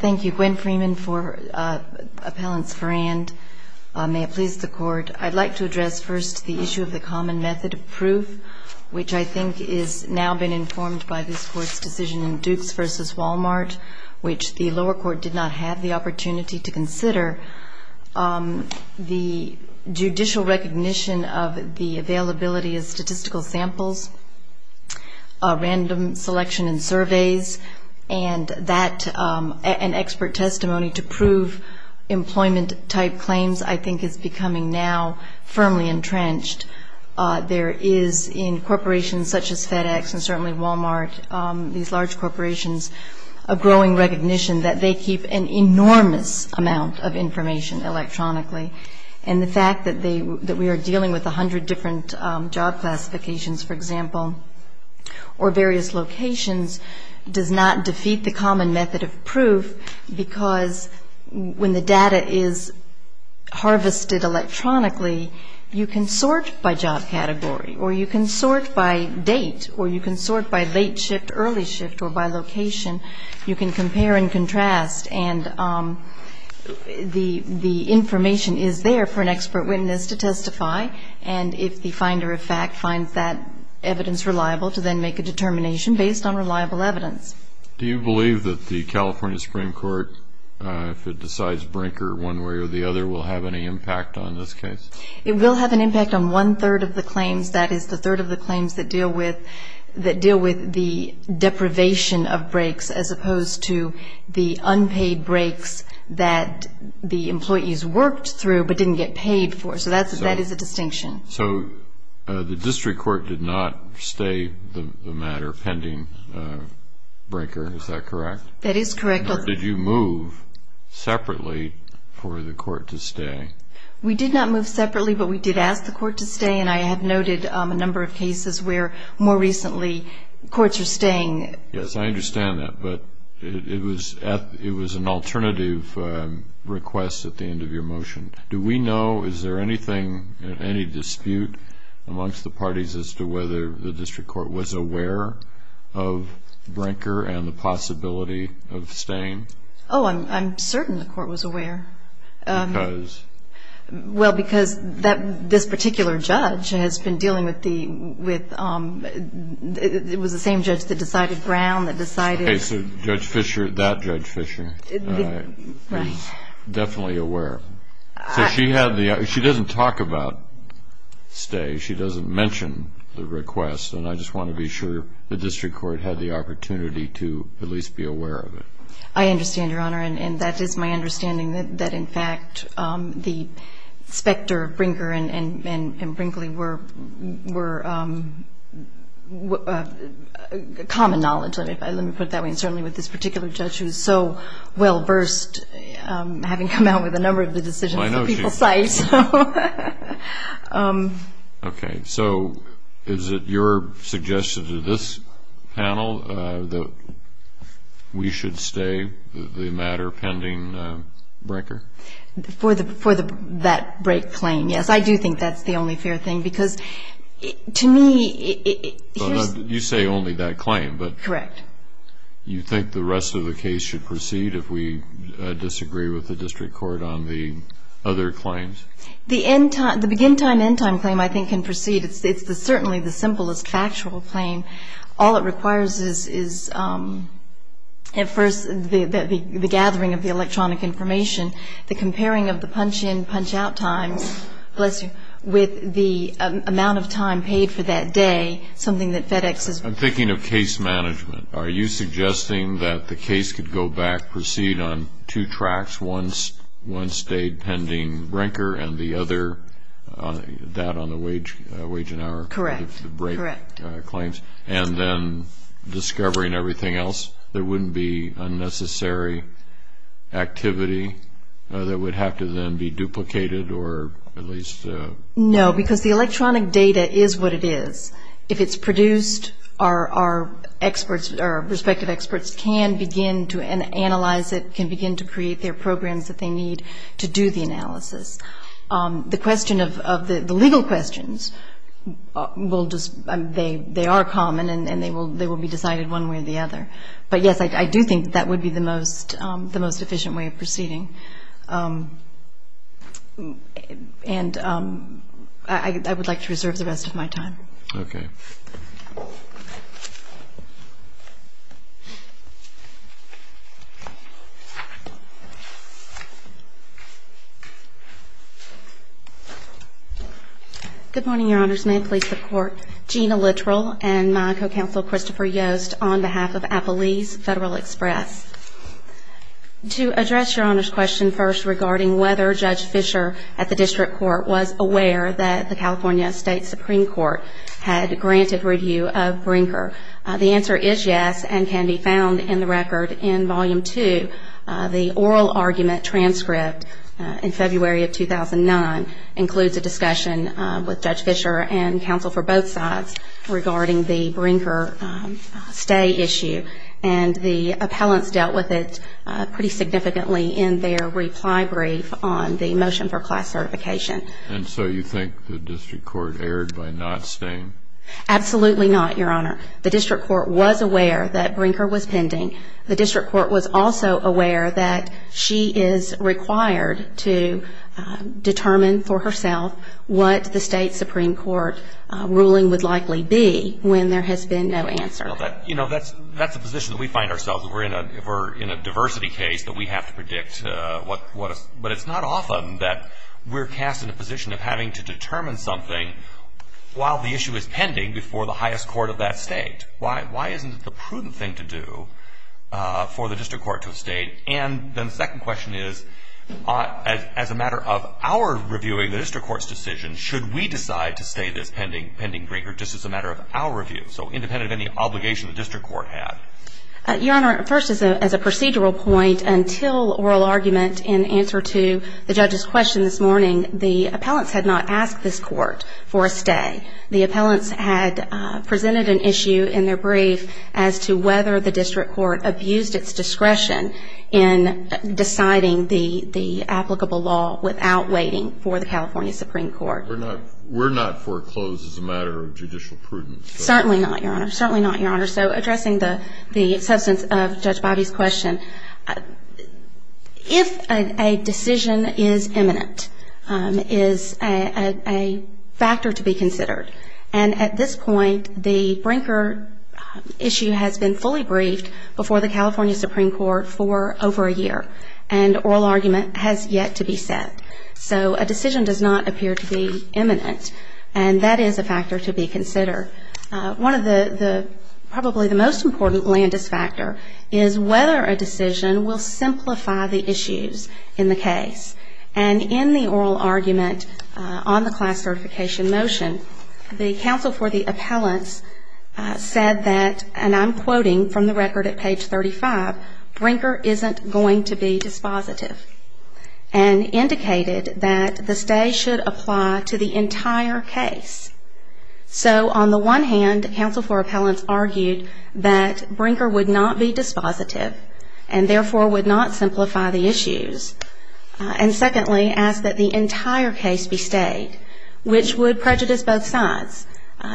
Thank you. Gwen Freeman for Appellant Forrand. May it please the Court, I'd like to address first the issue of the common method of proof, which I think has now been informed by this Court's decision in Dukes v. Wal-Mart, which the lower court did not have the opportunity to consider. The judicial recognition of the availability of statistical samples, random selection and surveys, and expert testimony to prove employment-type claims I think is becoming now firmly entrenched. There is in corporations such as FedEx and certainly Wal-Mart, these large corporations, a growing recognition that they keep an enormous amount of information electronically. And the fact that we are dealing with 100 different job classifications, for example, or various locations does not defeat the common method of proof because when the data is harvested electronically, you can sort by job category or you can sort by date or you can sort by late shift, early shift or by location. You can compare and contrast and the information is there for an expert witness to testify and if the finder of fact finds that evidence reliable to then make a determination based on reliable evidence. Do you believe that the California Supreme Court, if it decides Brinker one way or the other, will have any impact on this case? It will have an impact on one third of the claims, that is the third of the claims that deal with the deprivation of breaks as opposed to the unpaid breaks that the employees worked through but didn't get paid for. So that is a distinction. So the district court did not stay the matter pending Brinker, is that correct? That is correct. Or did you move separately for the court to stay? We did not move separately but we did ask the court to stay and I have noted a number of cases where more recently courts are staying. Yes, I understand that but it was an alternative request at the end of your motion. Do we know, is there anything, any dispute amongst the parties as to whether the district court was aware of Brinker and the possibility of staying? Oh, I'm certain the court was aware. Because? Well, because this particular judge has been dealing with the, it was the same judge that decided Brown that decided. Okay, so Judge Fisher, that Judge Fisher was definitely aware. So she doesn't talk about stay, she doesn't mention the request and I just want to be sure the district court had the opportunity to at least be aware of it. I understand, Your Honor, and that is my understanding that in fact the specter of Brinker and Brinkley were common knowledge. Let me put it that way. And certainly with this particular judge who is so well versed, having come out with a number of the decisions that people cite. Okay, so is it your suggestion to this panel that we should stay the matter pending Brinker? For that Brink claim, yes. I do think that's the only fair thing because to me, here's. Correct. You think the rest of the case should proceed if we disagree with the district court on the other claims? The begin time, end time claim I think can proceed. It's certainly the simplest factual claim. All it requires is at first the gathering of the electronic information, the comparing of the punch in, punch out times, bless you, with the amount of time paid for that day, something that FedEx is. I'm thinking of case management. Are you suggesting that the case could go back, proceed on two tracks, one stayed pending Brinker and the other that on the wage and hour break claims? Correct. And then discovering everything else? There wouldn't be unnecessary activity that would have to then be duplicated or at least? No, because the electronic data is what it is. If it's produced, our experts, our respective experts can begin to analyze it, can begin to create their programs that they need to do the analysis. The question of the legal questions, they are common and they will be decided one way or the other. But, yes, I do think that would be the most efficient way of proceeding. And I would like to reserve the rest of my time. Okay. Good morning, Your Honors. May I please support Gina Littrell and my co-counsel Christopher Yost on behalf of Appleease Federal Express. To address Your Honor's question first regarding whether Judge Fischer at the district court was aware that the California State Supreme Court had granted review of Brinker. The answer is yes and can be found in the record in Volume 2. The oral argument transcript in February of 2009 includes a discussion with Judge Fischer and counsel for both sides regarding the Brinker stay issue. And the appellants dealt with it pretty significantly in their reply brief on the motion for class certification. And so you think the district court erred by not staying? Absolutely not, Your Honor. The district court was aware that Brinker was pending. The district court was also aware that she is required to determine for herself what the state supreme court ruling would likely be when there has been no answer. You know, that's a position that we find ourselves if we're in a diversity case that we have to predict. But it's not often that we're cast in a position of having to determine something while the issue is pending before the highest court of that state. Why isn't it the prudent thing to do for the district court to stay? And then the second question is, as a matter of our reviewing the district court's decision, should we decide to stay this pending Brinker just as a matter of our review? So independent of any obligation the district court had. Your Honor, first as a procedural point, until oral argument in answer to the judge's question this morning, the appellants had not asked this court for a stay. The appellants had presented an issue in their brief as to whether the district court abused its discretion in deciding the applicable law without waiting for the California supreme court. We're not foreclosed as a matter of judicial prudence. Certainly not, Your Honor. Certainly not, Your Honor. So addressing the substance of Judge Bobby's question, if a decision is imminent, is a factor to be considered. And at this point, the Brinker issue has been fully briefed before the California supreme court for over a year. And oral argument has yet to be set. So a decision does not appear to be imminent. And that is a factor to be considered. One of the probably the most important landis factor is whether a decision will simplify the issues in the case. And in the oral argument on the class certification motion, the counsel for the appellants said that, and I'm quoting from the record at page 35, Brinker isn't going to be dispositive. And indicated that the stay should apply to the entire case. So on the one hand, counsel for appellants argued that Brinker would not be dispositive and therefore would not simplify the issues. And secondly, asked that the entire case be stayed, which would prejudice both sides.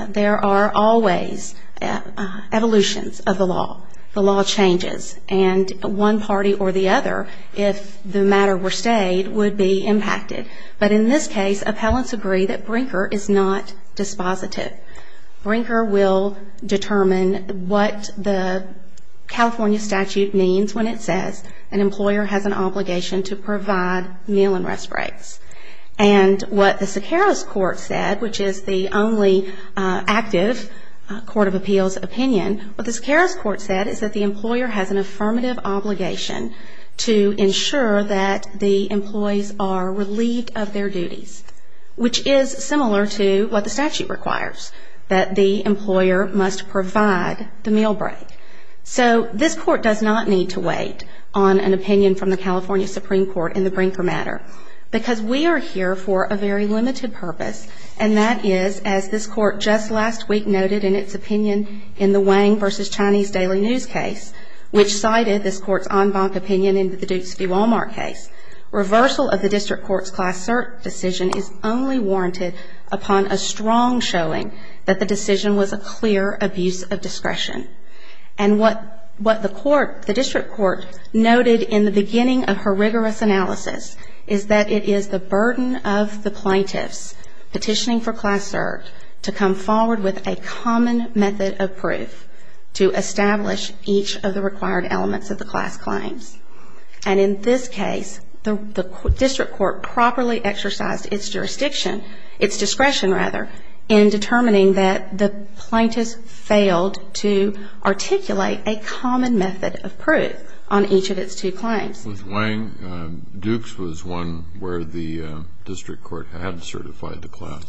There are always evolutions of the law. The law changes. And one party or the other, if the matter were stayed, would be impacted. But in this case, appellants agree that Brinker is not dispositive. Brinker will determine what the California statute means when it says an employer has an obligation to provide meal and rest breaks. And what the Siqueiros court said, which is the only active court of appeals opinion, what the Siqueiros court said is that the employer has an affirmative obligation to ensure that the employees are relieved of their duties. Which is similar to what the statute requires, that the employer must provide the meal break. So this court does not need to wait on an opinion from the California Supreme Court in the Brinker matter. Because we are here for a very limited purpose. And that is, as this court just last week noted in its opinion in the Wang v. Chinese Daily News case, which cited this court's en banc opinion in the Dukes v. Walmart case, reversal of the district court's class cert decision is only warranted upon a strong showing And what the court, the district court noted in the beginning of her rigorous analysis, is that it is the burden of the plaintiffs petitioning for class cert to come forward with a common method of proof to establish each of the required elements of the class claims. And in this case, the district court properly exercised its jurisdiction, its discretion rather, in determining that the plaintiffs failed to articulate a common method of proof on each of its two claims. With Wang, Dukes was one where the district court had certified the class.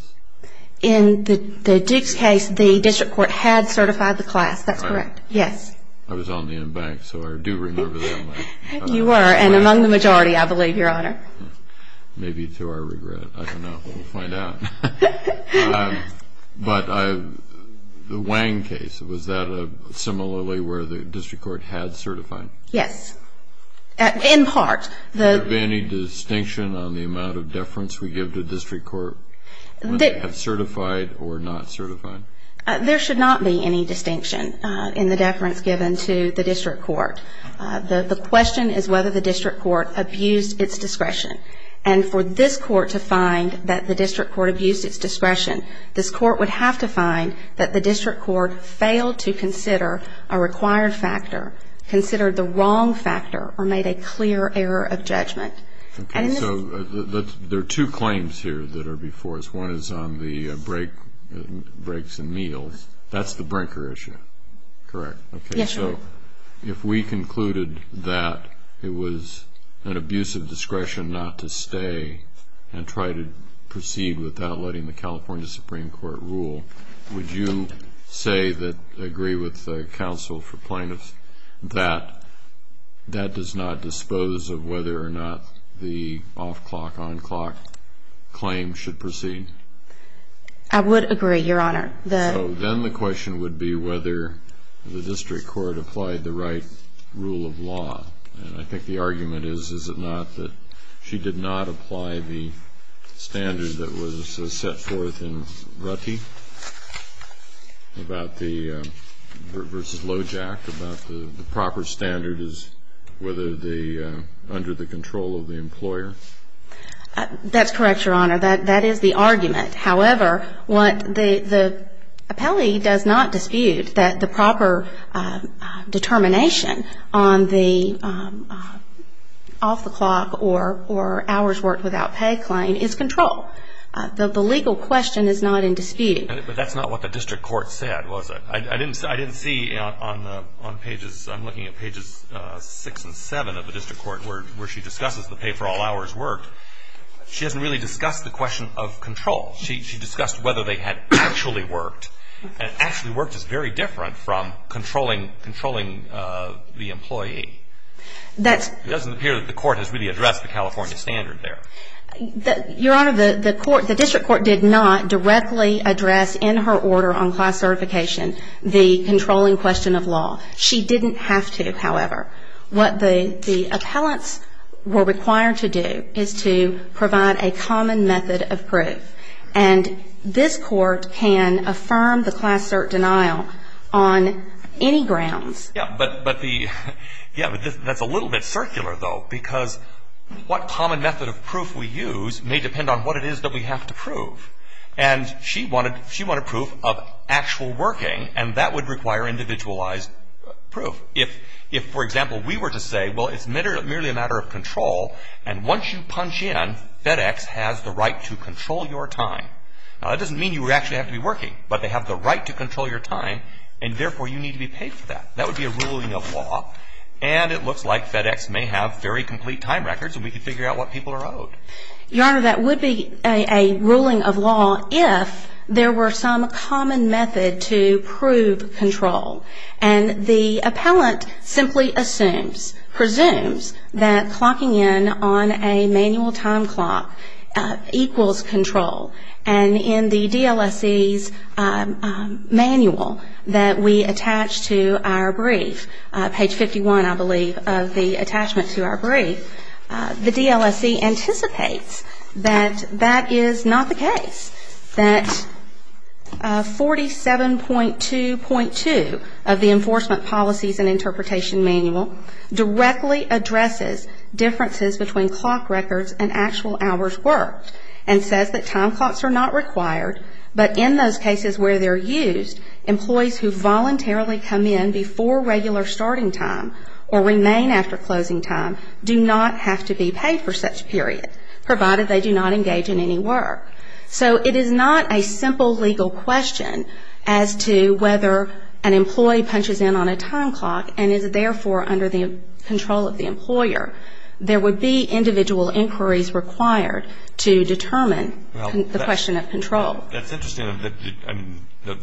In the Dukes case, the district court had certified the class. That's correct. Yes. I was on the en banc, so I do remember that one. You were. And among the majority, I believe, Your Honor. Maybe to our regret. I don't know. We'll find out. But the Wang case, was that similarly where the district court had certified? Yes. In part. Was there any distinction on the amount of deference we give to district court when they had certified or not certified? There should not be any distinction in the deference given to the district court. The question is whether the district court abused its discretion. And for this court to find that the district court abused its discretion, this court would have to find that the district court failed to consider a required factor, considered the wrong factor, or made a clear error of judgment. Okay. So there are two claims here that are before us. One is on the breaks and meals. That's the brinker issue, correct? Yes, Your Honor. So if we concluded that it was an abuse of discretion not to stay and try to proceed without letting the California Supreme Court rule, would you say that, agree with the counsel for plaintiffs, that that does not dispose of whether or not the off-clock, on-clock claim should proceed? I would agree, Your Honor. So then the question would be whether the district court applied the right rule of law. And I think the argument is, is it not that she did not apply the standard that was set forth in Rutte versus Lojack, about the proper standard is whether the under the control of the employer? That's correct, Your Honor. That is the argument. However, what the appellee does not dispute, that the proper determination on the off-the-clock or hours worked without pay claim is control. The legal question is not in dispute. But that's not what the district court said, was it? I didn't see on pages, I'm looking at pages 6 and 7 of the district court, where she discusses the pay for all hours worked. She hasn't really discussed the question of control. She discussed whether they had actually worked. And actually worked is very different from controlling the employee. It doesn't appear that the court has really addressed the California standard there. Your Honor, the court, the district court did not directly address in her order on class certification the controlling question of law. She didn't have to, however. What the appellants were required to do is to provide a common method of proof. And this court can affirm the class cert denial on any grounds. Yeah, but the, yeah, but that's a little bit circular, though, because what common method of proof we use may depend on what it is that we have to prove. And she wanted proof of actual working, and that would require individualized proof. If, for example, we were to say, well, it's merely a matter of control, and once you punch in, FedEx has the right to control your time. Now, that doesn't mean you actually have to be working, but they have the right to control your time, and therefore you need to be paid for that. That would be a ruling of law. And it looks like FedEx may have very complete time records, and we could figure out what people are owed. Your Honor, that would be a ruling of law if there were some common method to prove control. And the appellant simply assumes, presumes, that clocking in on a manual time clock equals control. And in the DLSE's manual that we attach to our brief, page 51, I believe, of the attachment to our brief, the DLSE anticipates that that is not the case, that 47.2.2 of the Enforcement Policies and Interpretation Manual directly addresses differences between clock records and actual hours worked and says that time clocks are not required, but in those cases where they're used, employees who voluntarily come in before regular starting time or remain after closing time do not have to be paid for such period, provided they do not engage in any work. So it is not a simple legal question as to whether an employee punches in on a time clock and is therefore under the control of the employer. There would be individual inquiries required to determine the question of control. That's interesting. The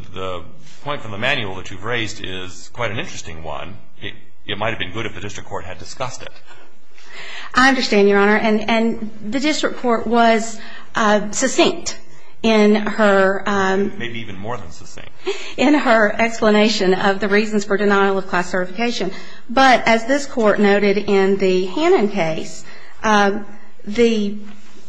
point from the manual that you've raised is quite an interesting one. It might have been good if the district court had discussed it. I understand, Your Honor. And the district court was succinct in her explanation of the reasons for denial of class certification. But as this Court noted in the Hannon case, the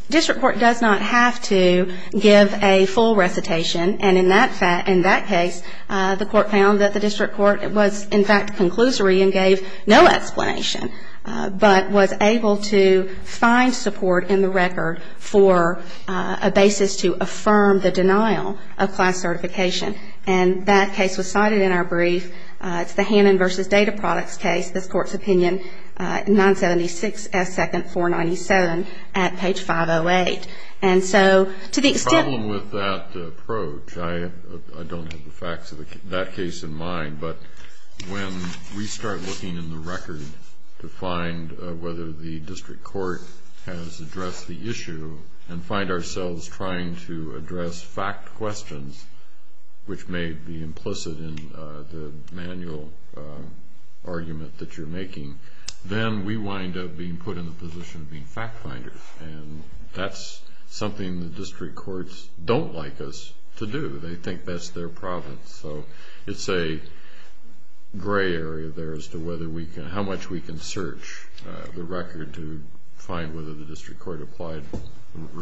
district court does not have to give a full recitation. And in that case, the court found that the district court was, in fact, conclusory and gave no explanation, but was able to find support in the record for a basis to affirm the denial of class certification. And that case was cited in our brief. It's the Hannon v. Data Products case, this Court's opinion, 976 S. 2nd 497 at page 508. The problem with that approach, I don't have the facts of that case in mind, but when we start looking in the record to find whether the district court has addressed the issue and find ourselves trying to address fact questions, which may be implicit in the manual argument that you're making, then we wind up being put in the position of being fact finders. And that's something the district courts don't like us to do. They think that's their problem. So it's a gray area there as to how much we can search the record to find whether the district court applied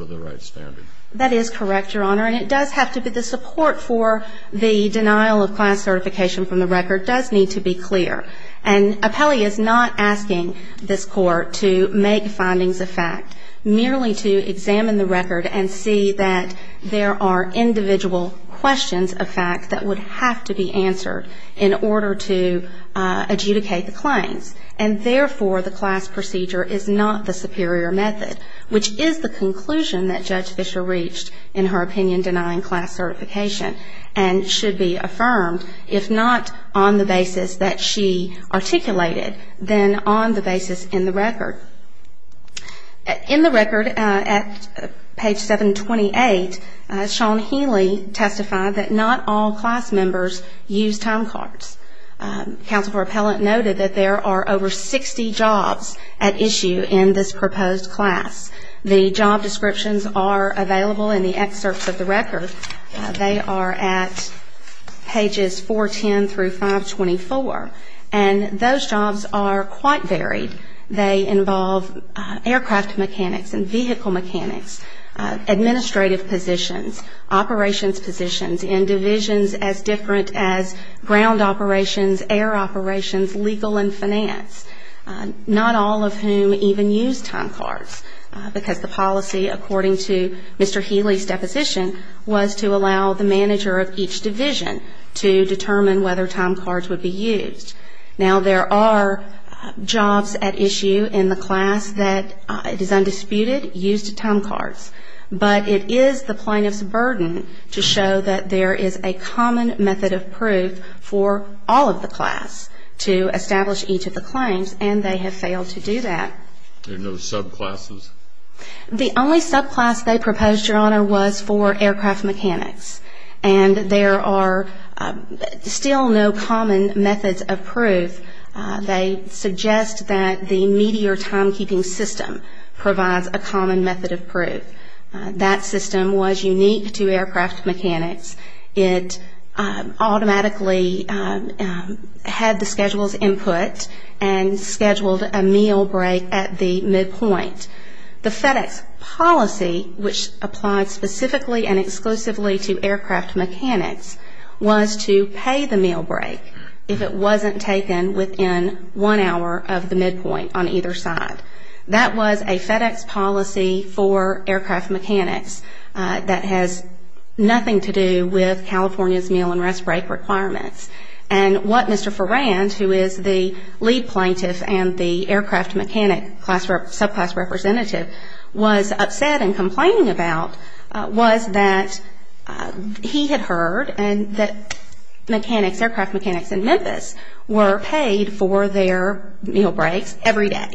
the right standard. That is correct, Your Honor. And it does have to be the support for the denial of class certification from the record does need to be clear. And Apelli is not asking this Court to make findings of fact, merely to examine the record and see that there are individual questions of fact that would have to be answered in order to adjudicate the claims. And therefore, the class procedure is not the superior method, which is the conclusion that Judge Fischer reached in her opinion denying class certification and should be affirmed if not on the basis that she articulated, then on the basis in the record. In the record at page 728, Sean Healy testified that not all class members use time cards. Counsel for Appellant noted that there are over 60 jobs at issue in this proposed class. The job descriptions are available in the excerpts of the record. They are at pages 410 through 524. And those jobs are quite varied. They involve aircraft mechanics and vehicle mechanics, administrative positions, operations positions, in divisions as different as ground operations, air operations, legal and finance, not all of whom even use time cards, because the policy according to Mr. Healy's deposition was to allow the manager of each division to determine whether time cards would be used. Now, there are jobs at issue in the class that it is undisputed used time cards. But it is the plaintiff's burden to show that there is a common method of proof for all of the class to establish each of the claims, and they have failed to do that. There are no subclasses? The only subclass they proposed, Your Honor, was for aircraft mechanics. And there are still no common methods of proof. They suggest that the Meteor timekeeping system provides a common method of proof. That system was unique to aircraft mechanics. It automatically had the schedule's input and scheduled a meal break at the midpoint. The FedEx policy, which applied specifically and exclusively to aircraft mechanics, was to pay the meal break if it wasn't taken within one hour of the midpoint on either side. That was a FedEx policy for aircraft mechanics that has nothing to do with California's meal and rest break requirements. And what Mr. Ferrand, who is the lead plaintiff and the aircraft mechanic subclass representative, was upset and complaining about was that he had heard that mechanics, aircraft mechanics in Memphis, were paid for their meal breaks every day,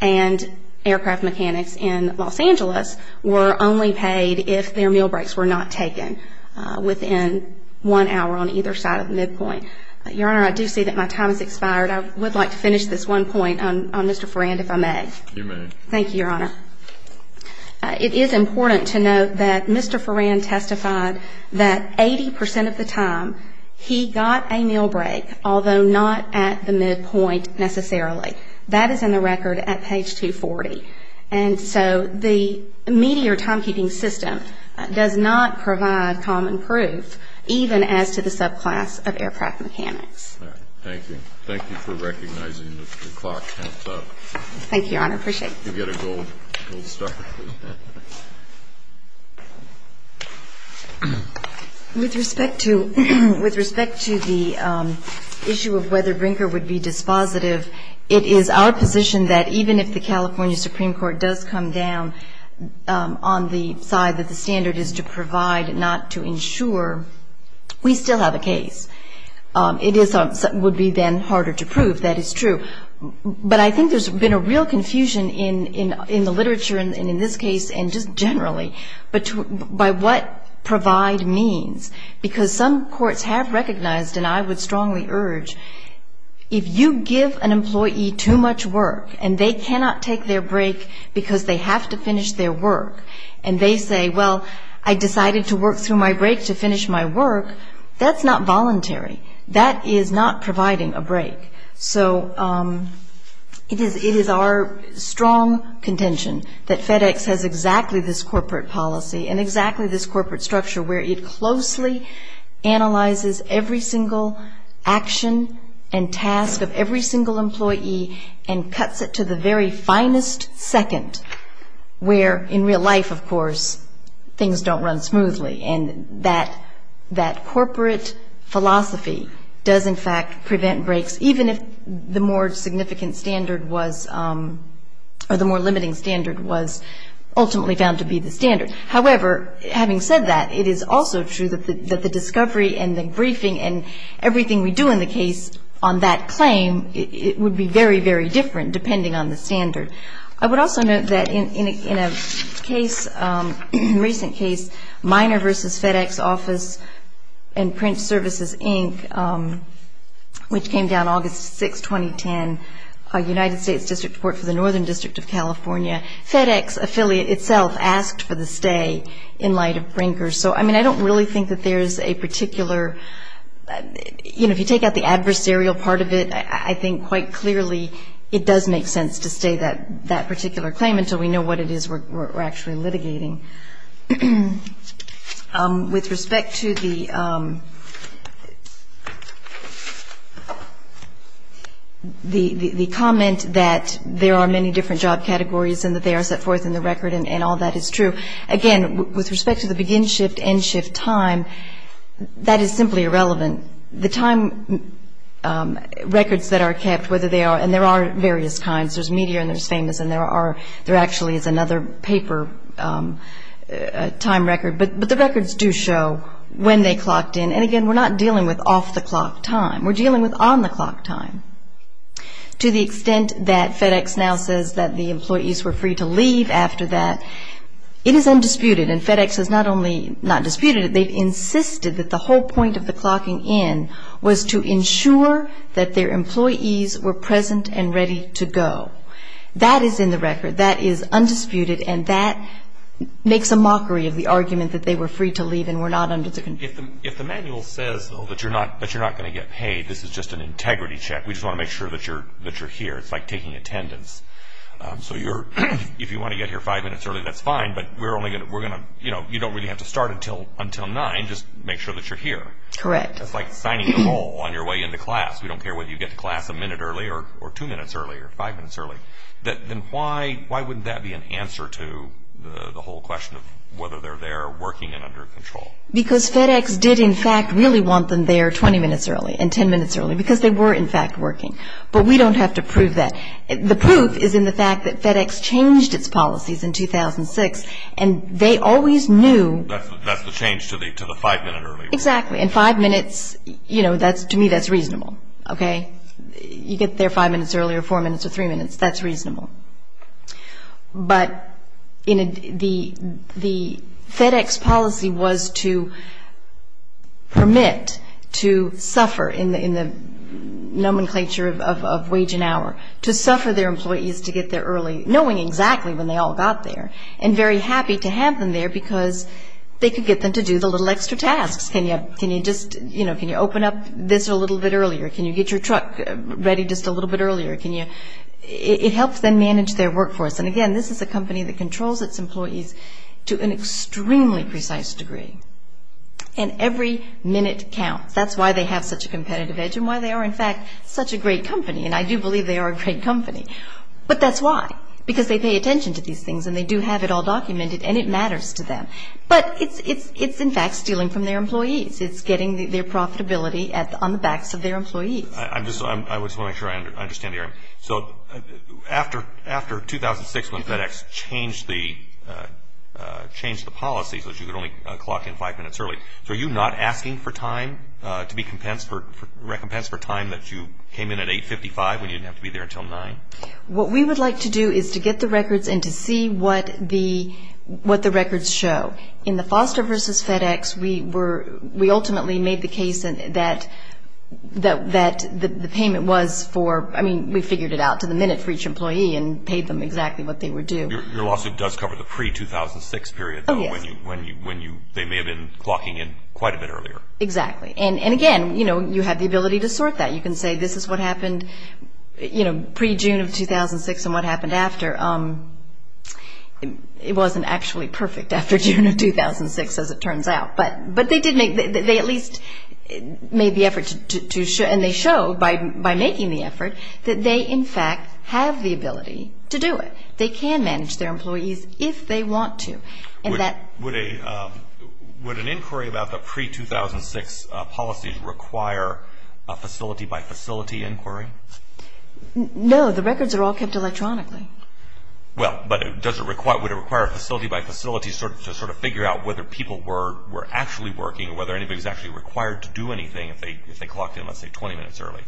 and aircraft mechanics in Los Angeles were only paid if their meal breaks were not taken within one hour on either side of the midpoint. Your Honor, I do see that my time has expired. I would like to finish this one point on Mr. Ferrand, if I may. You may. Thank you, Your Honor. It is important to note that Mr. Ferrand testified that 80% of the time he got a meal break, although not at the midpoint necessarily. That is in the record at page 240. And so the Meteor timekeeping system does not provide common proof, even as to the subclass of aircraft mechanics. Thank you. Thank you for recognizing that the clock counts up. Thank you, Your Honor. I appreciate it. You get a gold star. With respect to the issue of whether Brinker would be dispositive, it is our position that even if the California Supreme Court does come down on the side that the standard is to provide, not to insure, we still have a case. It would be then harder to prove. That is true. But I think there's been a real confusion in the literature and in this case and just generally by what provide means. Because some courts have recognized, and I would strongly urge, if you give an employee too much work and they cannot take their break because they have to finish their work, and they say, well, I decided to work through my break to finish my work, that's not voluntary. That is not providing a break. So it is our strong contention that FedEx has exactly this corporate policy and exactly this corporate structure where it closely analyzes every single action and task of every single employee and cuts it to the very finest second, where in real life, of course, things don't run smoothly. And that corporate philosophy does, in fact, prevent breaks, even if the more significant standard was, or the more limiting standard, was ultimately found to be the standard. However, having said that, it is also true that the discovery and the briefing and everything we do in the case on that claim would be very, very different depending on the standard. I would also note that in a case, recent case, Miner v. FedEx Office and Print Services, Inc., which came down August 6, 2010, United States District Court for the Northern District of California, FedEx affiliate itself asked for the stay in light of Brinker. So, I mean, I don't really think that there's a particular, you know, if you take out the adversarial part of it, I think quite clearly it does make sense to stay that particular claim until we know what it is we're actually litigating. With respect to the comment that there are many different job categories and that they are set forth in the record and all that is true, again, with respect to the begin shift, end shift time, that is simply irrelevant. The time records that are kept, whether they are, and there are various kinds, there's media and there's famous and there are, there actually is another paper time record, but the records do show when they clocked in. And, again, we're not dealing with off-the-clock time. We're dealing with on-the-clock time. To the extent that FedEx now says that the employees were free to leave after that, it is undisputed, and FedEx has not only not disputed it, they've insisted that the whole point of the clocking in was to ensure that their employees were present and ready to go. That is in the record. That is undisputed, and that makes a mockery of the argument that they were free to leave and were not under the control. If the manual says, though, that you're not going to get paid, this is just an integrity check. We just want to make sure that you're here. It's like taking attendance. So if you want to get here five minutes early, that's fine, but you don't really have to start until 9, just make sure that you're here. Correct. It's like signing a poll on your way into class. We don't care whether you get to class a minute early or two minutes early or five minutes early. Then why wouldn't that be an answer to the whole question of whether they're there or working and under control? Because FedEx did, in fact, really want them there 20 minutes early and 10 minutes early because they were, in fact, working. But we don't have to prove that. The proof is in the fact that FedEx changed its policies in 2006, and they always knew. That's the change to the five-minute early rule. Exactly. And five minutes, you know, to me that's reasonable. Okay? You get there five minutes early or four minutes or three minutes, that's reasonable. But the FedEx policy was to permit to suffer in the nomenclature of wage and hour, to suffer their employees to get there early, knowing exactly when they all got there, and very happy to have them there because they could get them to do the little extra tasks. Can you just, you know, can you open up this a little bit earlier? Can you get your truck ready just a little bit earlier? It helps them manage their workforce. And, again, this is a company that controls its employees to an extremely precise degree. And every minute counts. That's why they have such a competitive edge and why they are, in fact, such a great company. And I do believe they are a great company. But that's why, because they pay attention to these things, and they do have it all documented, and it matters to them. But it's, in fact, stealing from their employees. It's getting their profitability on the backs of their employees. I just want to make sure I understand the area. So after 2006 when FedEx changed the policy so that you could only clock in five minutes early, so are you not asking for time to be recompensed for time that you came in at 855 when you didn't have to be there until 9? What we would like to do is to get the records and to see what the records show. In the Foster versus FedEx, we ultimately made the case that the payment was for, I mean, we figured it out to the minute for each employee and paid them exactly what they were due. Your lawsuit does cover the pre-2006 period, though, when they may have been clocking in quite a bit earlier. Exactly. And, again, you know, you have the ability to sort that. You can say this is what happened, you know, pre-June of 2006 and what happened after. It wasn't actually perfect after June of 2006, as it turns out. But they at least made the effort to show, and they show by making the effort, that they, in fact, have the ability to do it. They can manage their employees if they want to. Would an inquiry about the pre-2006 policies require a facility-by-facility inquiry? No. The records are all kept electronically. Well, but would it require a facility-by-facility to sort of figure out whether people were actually working or whether anybody was actually required to do anything if they clocked in, let's say, 20 minutes early?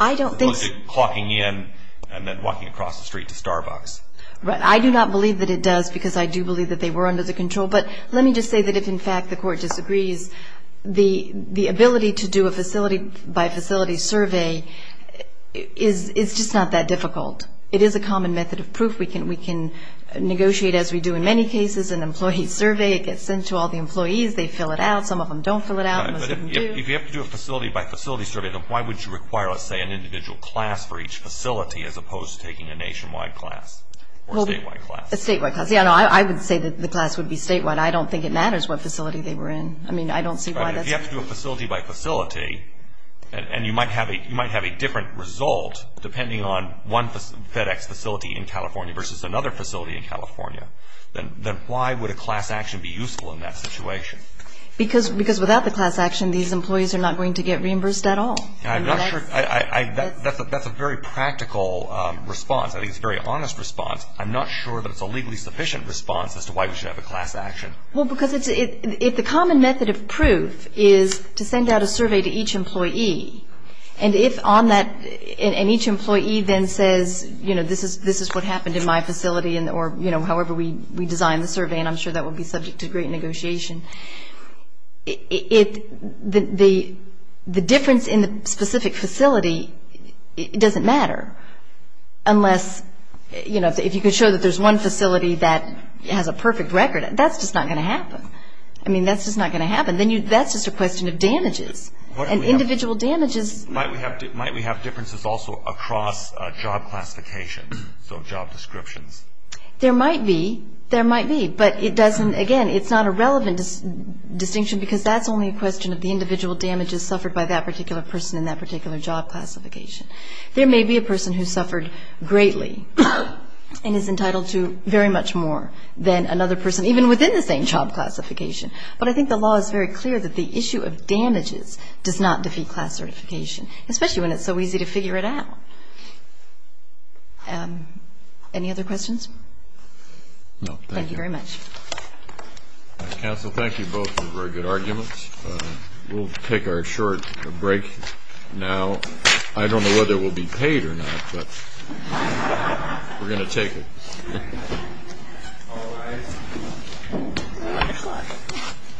I don't think so. Clocking in and then walking across the street to Starbucks. Right. I do not believe that it does because I do believe that they were under the control. But let me just say that if, in fact, the court disagrees, the ability to do a facility-by-facility survey is just not that difficult. It is a common method of proof. We can negotiate, as we do in many cases, an employee survey. It gets sent to all the employees. They fill it out. Some of them don't fill it out. Some of them do. If you have to do a facility-by-facility survey, then why would you require, let's say, an individual class for each facility as opposed to taking a nationwide class or a statewide class? A statewide class. Yeah, no, I would say that the class would be statewide. I don't think it matters what facility they were in. I mean, I don't see why that's. Right. If you have to do a facility-by-facility, and you might have a different result depending on one FedEx facility in California versus another facility in California, then why would a class action be useful in that situation? Because without the class action, these employees are not going to get reimbursed at all. I'm not sure. That's a very practical response. I think it's a very honest response. I'm not sure that it's a legally sufficient response as to why we should have a class action. Well, because if the common method of proof is to send out a survey to each employee, and each employee then says, you know, this is what happened in my facility or, you know, however we designed the survey, and I'm sure that would be subject to great negotiation, the difference in the specific facility doesn't matter unless, you know, if you could show that there's one facility that has a perfect record, that's just not going to happen. I mean, that's just not going to happen. That's just a question of damages and individual damages. Might we have differences also across job classifications, so job descriptions? There might be. There might be. But it doesn't, again, it's not a relevant distinction because that's only a question of the individual damages suffered by that particular person in that particular job classification. There may be a person who suffered greatly and is entitled to very much more than another person, even within the same job classification. But I think the law is very clear that the issue of damages does not defeat class certification, especially when it's so easy to figure it out. Any other questions? No, thank you. Thank you very much. Counsel, thank you both for very good arguments. We'll take our short break now. I don't know whether we'll be paid or not, but we're going to take it.